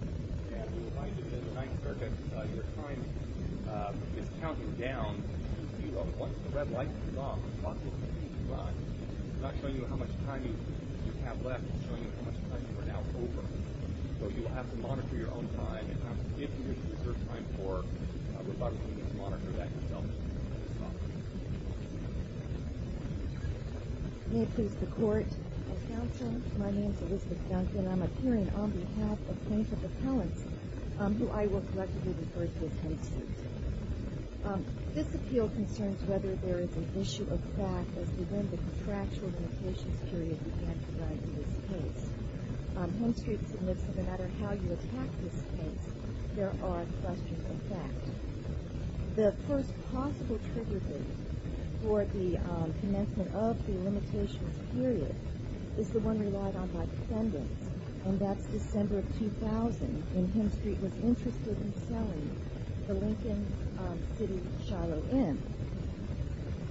We remind you that in the 9th Circuit, your time is counted down. Once the red light is off, the clock will continue to run. It's not showing you how much time you have left. It's showing you how much time you are now over. So you will have to monitor your own time. If you do deserve time for rebuttal, you can monitor that yourself. May it please the Court, My name is Elizabeth Duncan. I'm appearing on behalf of plaintiff appellants, who I will collectively refer to as Hemstreet. This appeal concerns whether there is an issue of fact as to when the contractual limitations period began to rise in this case. Hemstreet admits that no matter how you attack this case, there are questions of fact. The first possible trigger date for the commencement of the limitations period is the one relied on by defendants, and that's December of 2000, when Hemstreet was interested in selling the Lincoln City Shiloh Inn.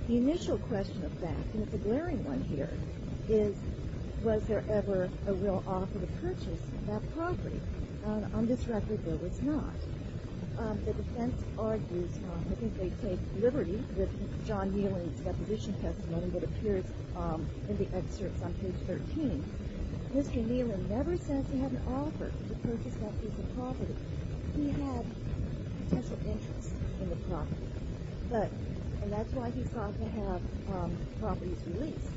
The initial question of fact, and it's a glaring one here, is was there ever a real offer to purchase that property. On this record, there was not. The defense argues, I think they take liberty with John Wheeling's deposition testimony, that appears in the excerpts on page 13. Mr. Wheeling never says he had an offer to purchase that piece of property. He had potential interest in the property, and that's why he sought to have properties released,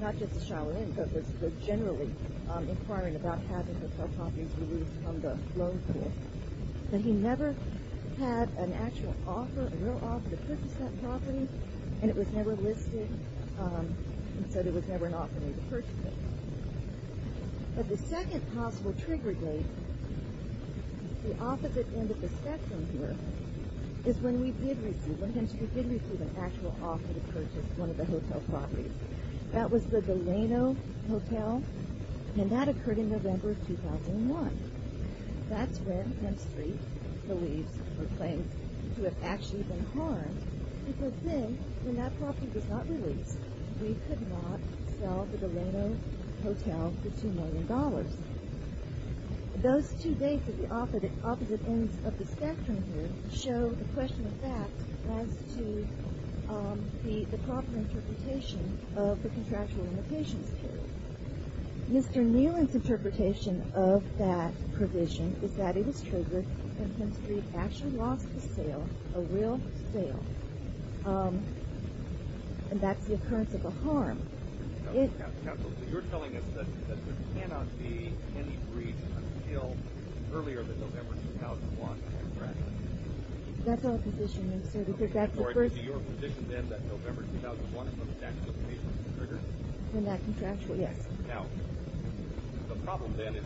not just the Shiloh Inn, but was generally inquiring about having the properties released from the loan pool. But he never had an actual offer, a real offer, to purchase that property, and it was never listed, and so there was never an offer to purchase it. But the second possible trigger date, the opposite end of the spectrum here, is when Hemstreet did receive an actual offer to purchase one of the hotel properties. That was the Delano Hotel, and that occurred in November of 2001. That's when Hemstreet believes or claims to have actually been harmed because then, when that property was not released, we could not sell the Delano Hotel for $2 million. Those two dates at the opposite ends of the spectrum here show the question of fact as to the proper interpretation of the contractual limitations period. Mr. Neelan's interpretation of that provision is that it was triggered when Hemstreet actually lost the sale, a real sale, and that's the occurrence of a harm. So you're telling us that there cannot be any breach until earlier than November 2001, contractually? That's our position, yes, sir, because that's the first— So it would be your position then that November 2001 is when the statute of limitations was triggered? When that contractual—yes. Now, the problem then is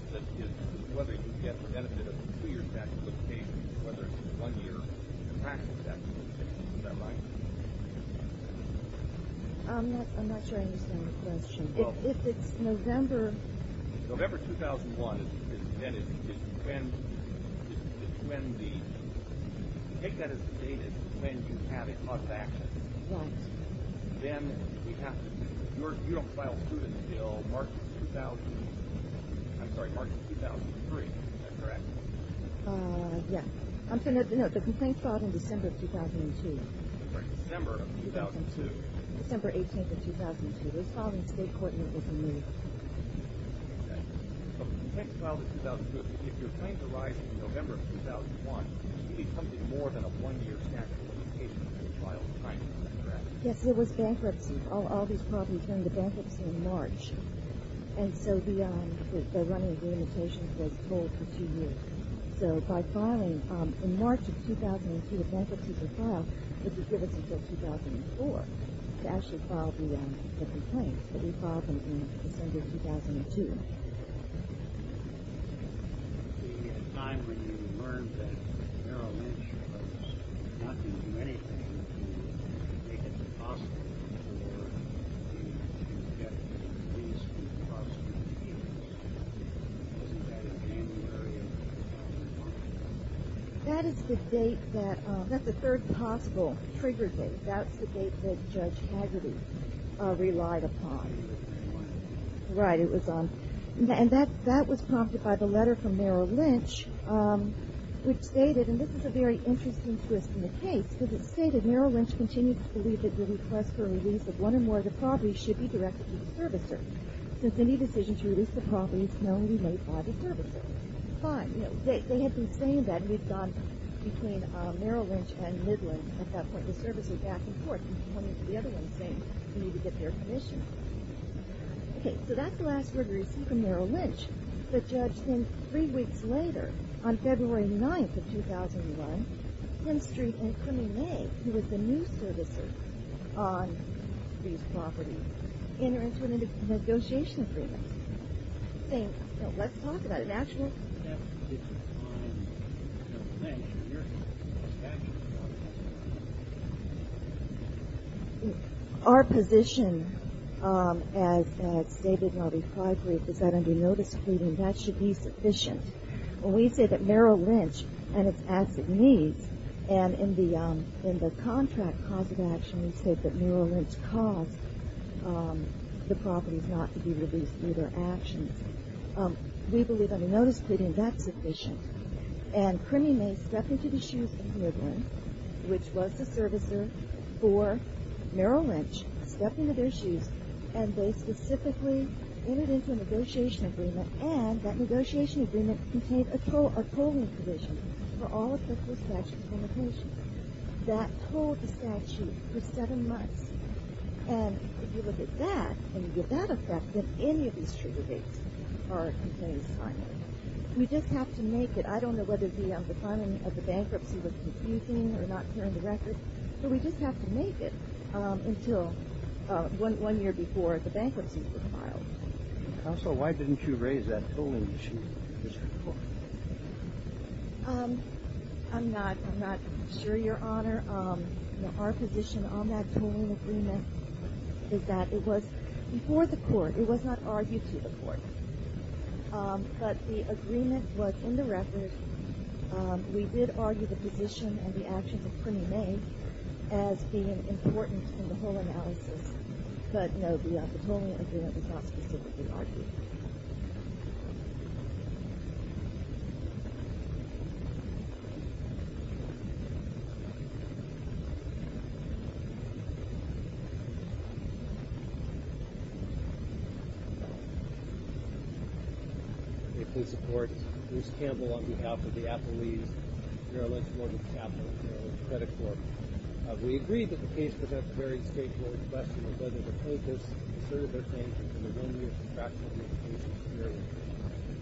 whether you can get the benefit of a two-year statute of limitations or whether it's a one-year contractual statute of limitations. Is that right? I'm not sure I understand the question. Well— If it's November— November 2001, then it's just when the—take that as the date when you have a cost action. Right. Then we have to—you don't file suit until March 2000—I'm sorry, March 2003. Is that correct? Yes. No, the complaint filed in December of 2002. Sorry, December of 2002. December 18th of 2002. It was filed in state court and it was a move. Okay. So the complaint filed in 2002, if your claims arise in November of 2001, it's usually something more than a one-year statute of limitations that you filed trying to contract. Yes, there was bankruptcy. All these problems came to bankruptcy in March. And so the running of the limitations was pulled for two years. So by filing in March of 2002, the bankruptcies were filed. It was given until 2004 to actually file the complaints. But we filed them in December of 2002. At the time when you learned that Merrill Lynch was not going to do anything, do you think it was possible for you to get the police to prosecute him? Wasn't that in January of 2001? That is the date that—that's the third possible trigger date. That's the date that Judge Haggerty relied upon. Right. It was on—and that was prompted by the letter from Merrill Lynch, which stated, and this is a very interesting twist in the case, because it stated, Merrill Lynch continued to believe that the request for a release of one or more of the properties should be directed to the servicer, since any decision to release the property is knownly made by the servicer. Fine. They had been saying that, and we've gone between Merrill Lynch and Midland at that point, and come into the other one saying we need to get their permission. Okay. So that's the last word we received from Merrill Lynch. The judge then, three weeks later, on February 9th of 2001, Henstreet and Cunningham, who was the new servicer on these properties, entered into a negotiation agreement, saying, So let's talk about it. An actual— Our position, as stated in our reply brief, is that under no discrepancy, that should be sufficient. When we say that Merrill Lynch and its asset needs, and in the contract cause of action we state that Merrill Lynch caused the properties not to be released through their actions, we believe under notice pleading that's sufficient. And Crimmy May stepped into the shoes of Midland, which was the servicer for Merrill Lynch, stepped into their shoes, and they specifically entered into a negotiation agreement, and that negotiation agreement contained a tolling provision for all applicable statutes on the property. That tolled the statute for seven months. And if you look at that and you get that effect, then any of these true debates are in place timely. We just have to make it. I don't know whether the timing of the bankruptcy was confusing or not clear in the record, but we just have to make it until one year before the bankruptcy was filed. Counsel, why didn't you raise that tolling issue? I'm not sure, Your Honor. Our position on that tolling agreement is that it was before the court. It was not argued to the court. But the agreement was in the record. We did argue the position and the actions of Crimmy May as being important in the whole analysis. But, no, the tolling agreement was not specifically argued. May it please the Court, Bruce Campbell on behalf of the Appalachian Merrill Lynch Mortgage Capital and Merrill Lynch Credit Corp. We agree that the case presents a very straightforward question of whether the plaintiffs asserted their claim in the one-year contractual limitations period.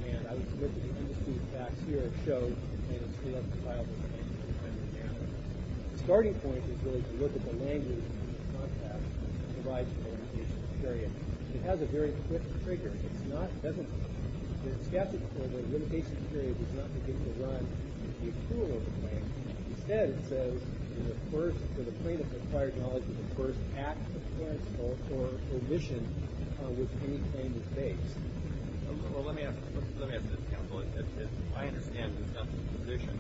And I would submit that the undisputed facts here show that the claim is still up for filing and is still pending now. The starting point is really to look at the language that the contract provides for the limitations period. It has a very quick trigger. It's not presently. In the statute, the limitation period does not begin to run. It's a cruel overplay. Instead, it says that the plaintiff has acquired knowledge of the first act of clearance or omission with any claim to space. Well, let me ask this. Let me ask this, Counsel. I understand Ms. Gunther's position.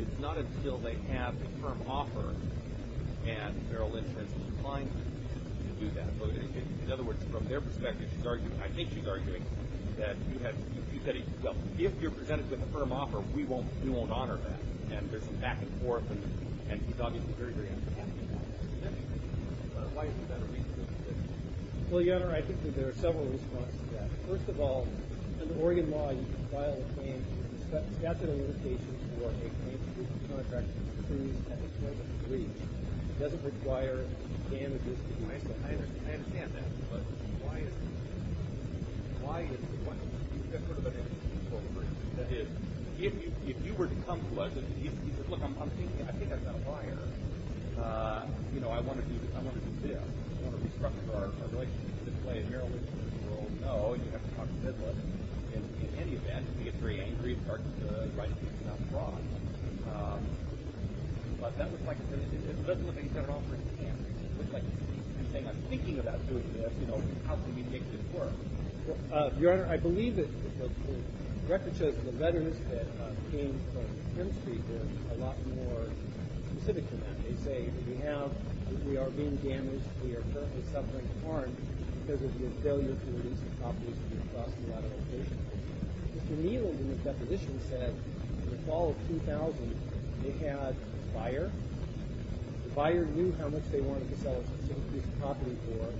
It's not until they have a firm offer, and Merrill Lynch has declined to do that. In other words, from their perspective, she's arguing, I think she's arguing, that you said, well, if you're presented with a firm offer, we won't honor that, and there's some back and forth, and she's obviously very, very unhappy about that. Why is that a reasonable position? Well, Your Honor, I think that there are several reasons for that. First of all, in the Oregon law, you can file a claim through the statute of limitations for a claim to the contract that's approved at the time of the breach. It doesn't require damages to the claimant. I understand that, but why is it? Why is it? That is, if you were to come to us and you said, look, I'm thinking, I think I've got a buyer, you know, I want to do this, I want to do this, I want to restructure our relationship with this claim, Merrill Lynch would say, well, no, you have to talk to Midler. In any event, he gets very angry and starts to write a piece about fraud. But that looks like a sentence. It doesn't look like he's got an offer in his hand. It looks like he's saying, I'm thinking about doing this. You know, how can we make this work? Well, Your Honor, I believe that the record shows that the letters that came from the Femme Street were a lot more specific to that. They say that we have, we are being damaged, we are currently suffering harm because of your failure to release the properties that we've lost in a lot of locations. Mr. Midler, in his deposition, said in the fall of 2000, they had a buyer. The buyer knew how much they wanted to sell a specific piece of property for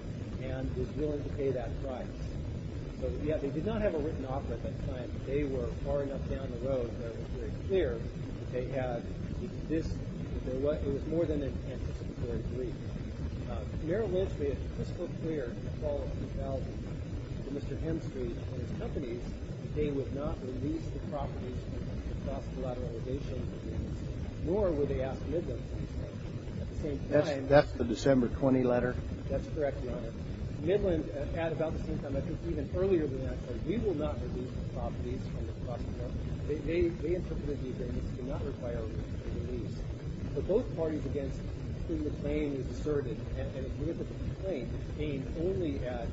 and was willing to pay that price. So, yeah, they did not have a written offer at that time. They were far enough down the road where it was very clear that they had this. It was more than an anticipatory brief. Merrill Lynch made it crystal clear in the fall of 2000 to Mr. Hemstreet and his companies that they would not release the properties from the lost collateral locations of the units, nor would they ask Midler to do so. At the same time, That's the December 20 letter? That's correct, Your Honor. Midler, at about the same time, I think even earlier than that, said, We will not release the properties from the lost collateral. They interpreted these as they did not require a release. But both parties, in the claim, asserted, and it's a significant claim, aimed only at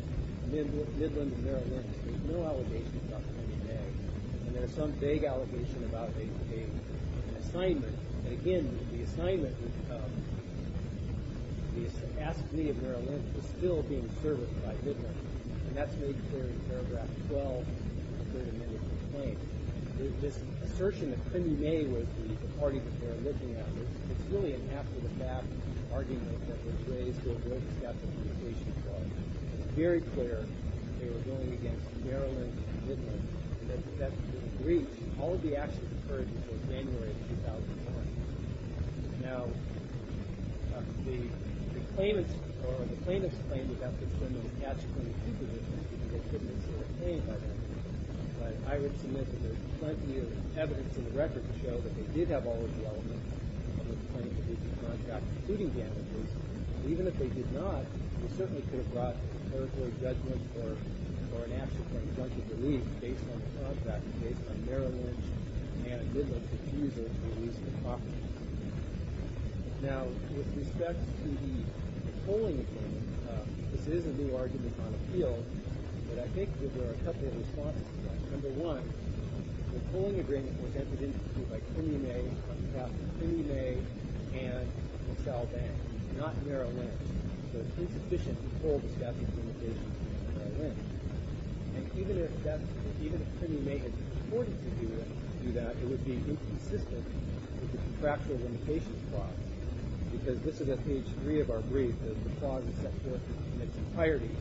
Midler and Merrill Lynch. There's no allegation about them being tagged. And there's some vague allegation about a payment, an assignment. And, again, the assignment, the assignee of Merrill Lynch, was still being serviced by Midler. And that's made clear in paragraph 12 of the third amendment of the claim. This assertion that Crindy May was the party that they were looking at, it's really an after-the-fact argument that was raised to avoid the statute of limitations clause. It's very clear they were going against Merrill Lynch and Midler. All of the actions occurred before January of 2001. Now, the claimants or the plaintiffs' claim about the criminal's tax-accounting duties, I would submit that there's plenty of evidence in the record to show that they did have all of the elements of the claim that they should contract, including damages. Even if they did not, they certainly could have brought a court-ordered judgment or an action for injunctive deletion based on the contract, based on Merrill Lynch and Midler's refusal to release the property. Now, with respect to the polling claim, this is a new argument on appeal, but I think that there are a couple of responses to that. Number one, the polling agreement was entered into by Crindy May on behalf of Crindy May and Michelle Bang, not Merrill Lynch. So it's insufficient to poll the statute of limitations of Merrill Lynch. And even if Crindy May had reported to do that, it would be inconsistent with the contractual limitations clause, because this is at page 3 of our brief. The clause is set forth in its entirety.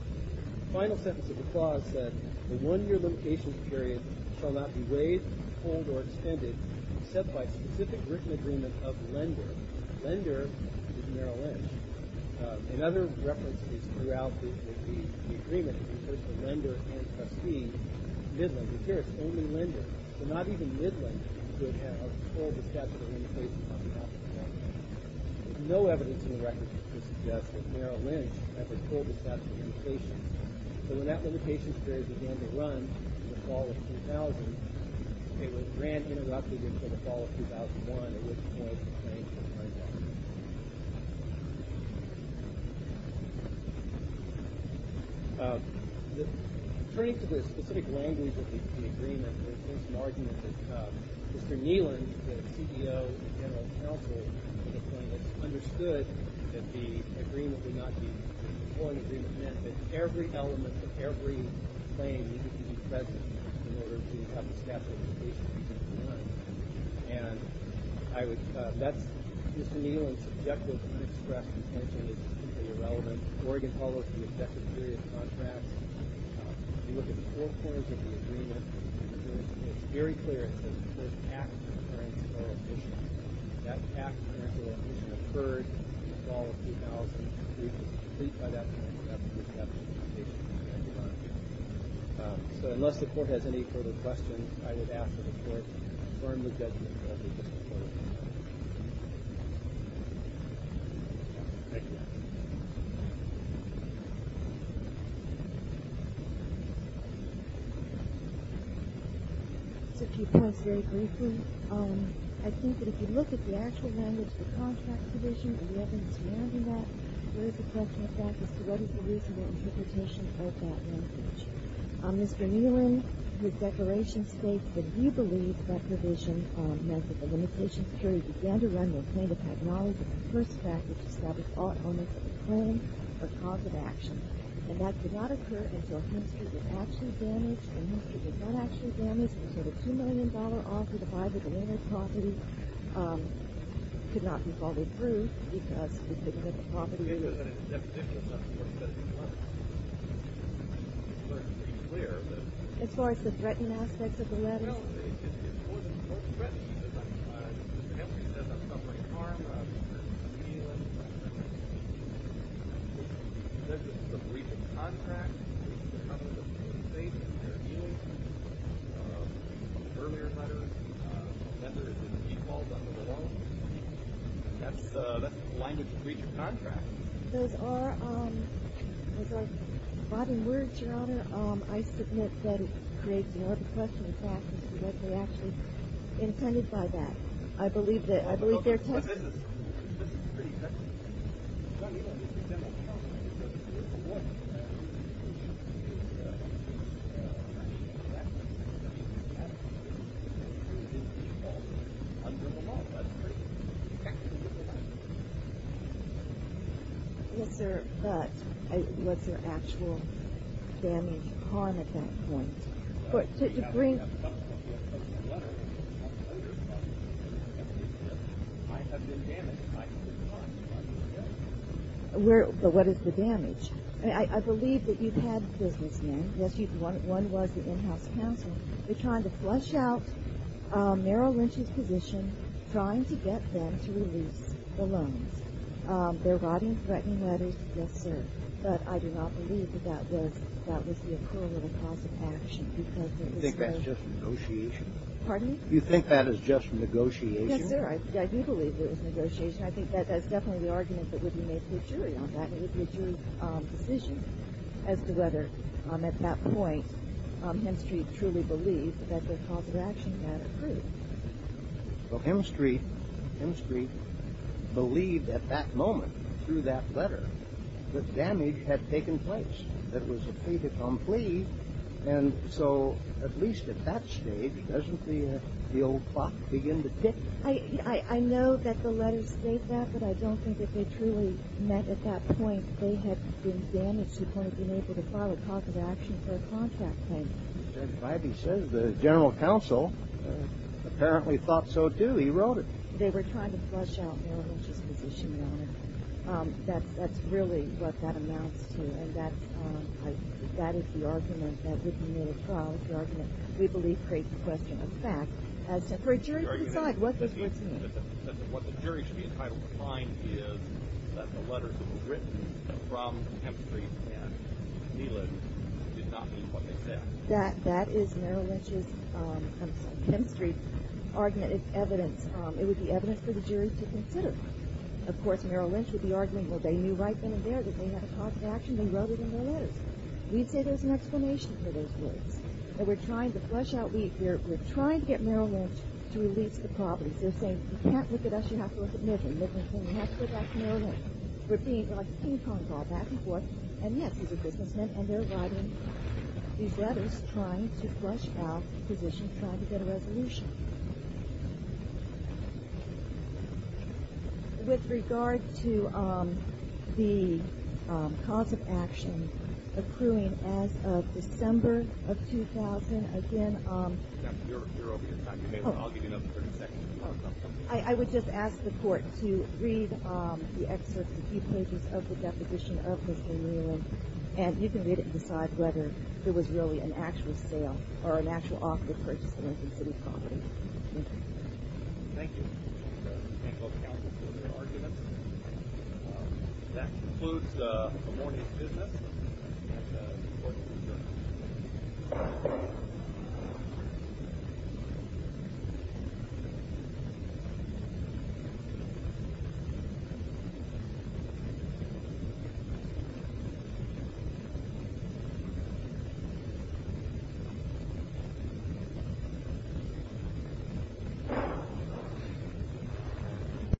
The final sentence of the clause said, the one-year limitations period shall not be weighed, polled, or extended except by specific written agreement of lender. Lender is Merrill Lynch. In other references throughout the agreement, it refers to lender and trustee, Midler. But here it's only lender. So not even Midler could have polled the statute of limitations on behalf of Crindy May. There's no evidence in the record to suggest that Merrill Lynch ever polled the statute of limitations. So when that limitation period began to run in the fall of 2000, it was grand interrupted until the fall of 2001, at which point the claim for Crindy May. Turning to the specific language of the agreement, there's an argument that Mr. Neeland, the CEO and general counsel of the claim, has understood that the agreement would not be, the polling agreement meant that every element of every claim needed to be present in order to have the statute of limitations be done. And I would, that's Mr. Neeland's objective. I expressed intention that it's completely irrelevant. Oregon follows the objective period of contracts. If you look at the four corners of the agreement, it's very clear it says the first half of the clearance of oral admission. That half of the clearance of oral admission occurred in the fall of 2000. The agreement is complete by that point, and that's the first half of the limitation period. So unless the court has any further questions, I would ask that the court confirm the judgment. Just a few points very briefly. I think that if you look at the actual language of the contract provision and the evidence surrounding that, there is a question of factors. So what is the reasonable interpretation of that language? Mr. Neeland, his declaration states that he believes that provision meant that the limitation period began to run the plaintiff had knowledge of the first fact which established all elements of the claim are cause of action. And that could not occur until a hamster was actually damaged. The hamster was not actually damaged. It was worth a $2 million offer to buy the delineated property. It could not be followed through because we couldn't get the property. As far as the threatening aspects of the letter? That's the language of the contract. Those are bottom words, Your Honor. I submit that it creates another question of factors as to what they actually intended by that. I believe they're testing. This is pretty technical. Mr. Neeland, this is general counsel. Yes, sir. But was there actual damage or harm at that point? To bring... But what is the damage? I believe that you've had businessmen. Yes, one was the in-house counsel. They're trying to flush out Merrill Lynch's position, trying to get them to release the loans. They're writing threatening letters. Yes, sir. But I do not believe that that was the occurrence of a cause of action because it was so... You think that's just negotiation? Pardon me? You think that is just negotiation? Yes, sir. I do believe it was negotiation. I think that's definitely the argument that would be made to a jury on that. It would be a jury's decision as to whether at that point Hemstreet truly believed that the cause of action had occurred. Well, Hemstreet believed at that moment through that letter that damage had taken place, that it was a fait accompli. And so, at least at that stage, doesn't the old clock begin to tick? I know that the letters state that, but I don't think that they truly meant at that point they had been damaged and couldn't have been able to file a cause of action for a contract claim. Judge Vibey says the general counsel apparently thought so too. He wrote it. They were trying to flush out Merrill Lynch's position, Your Honor. That's really what that amounts to, and that is the argument that would be made at trial. It's the argument we believe creates the question of fact. For a jury to decide what was written. What the jury should be entitled to find is that the letters that were written from Hemstreet and Neelan did not meet what they said. That is Merrill Lynch's Hemstreet argument. It's evidence. It would be evidence for the jury to consider. Of course, Merrill Lynch would be arguing, well, they knew right then and there that they had a cause of action. They wrote it in their letters. We'd say there's an explanation for those words. That we're trying to flush out, we're trying to get Merrill Lynch to release the properties. They're saying, you can't look at us. You have to look at Midland. Midland's saying, you have to go back to Merrill Lynch. We're being like a ping-pong ball, back and forth. And, yes, he's a businessman, and they're writing these letters trying to flush out positions, trying to get a resolution. With regard to the cause of action, accruing as of December of 2000, again. You're over your time. I'll give you another 30 seconds. I would just ask the Court to read the excerpts, the key pages of the deposition of Mr. Neelan, and you can read it and decide whether it was really an actual sale or an actual offer to purchase the Lincoln City property. Thank you. And we'll counsel further arguments. That concludes the morning's business. Thank you.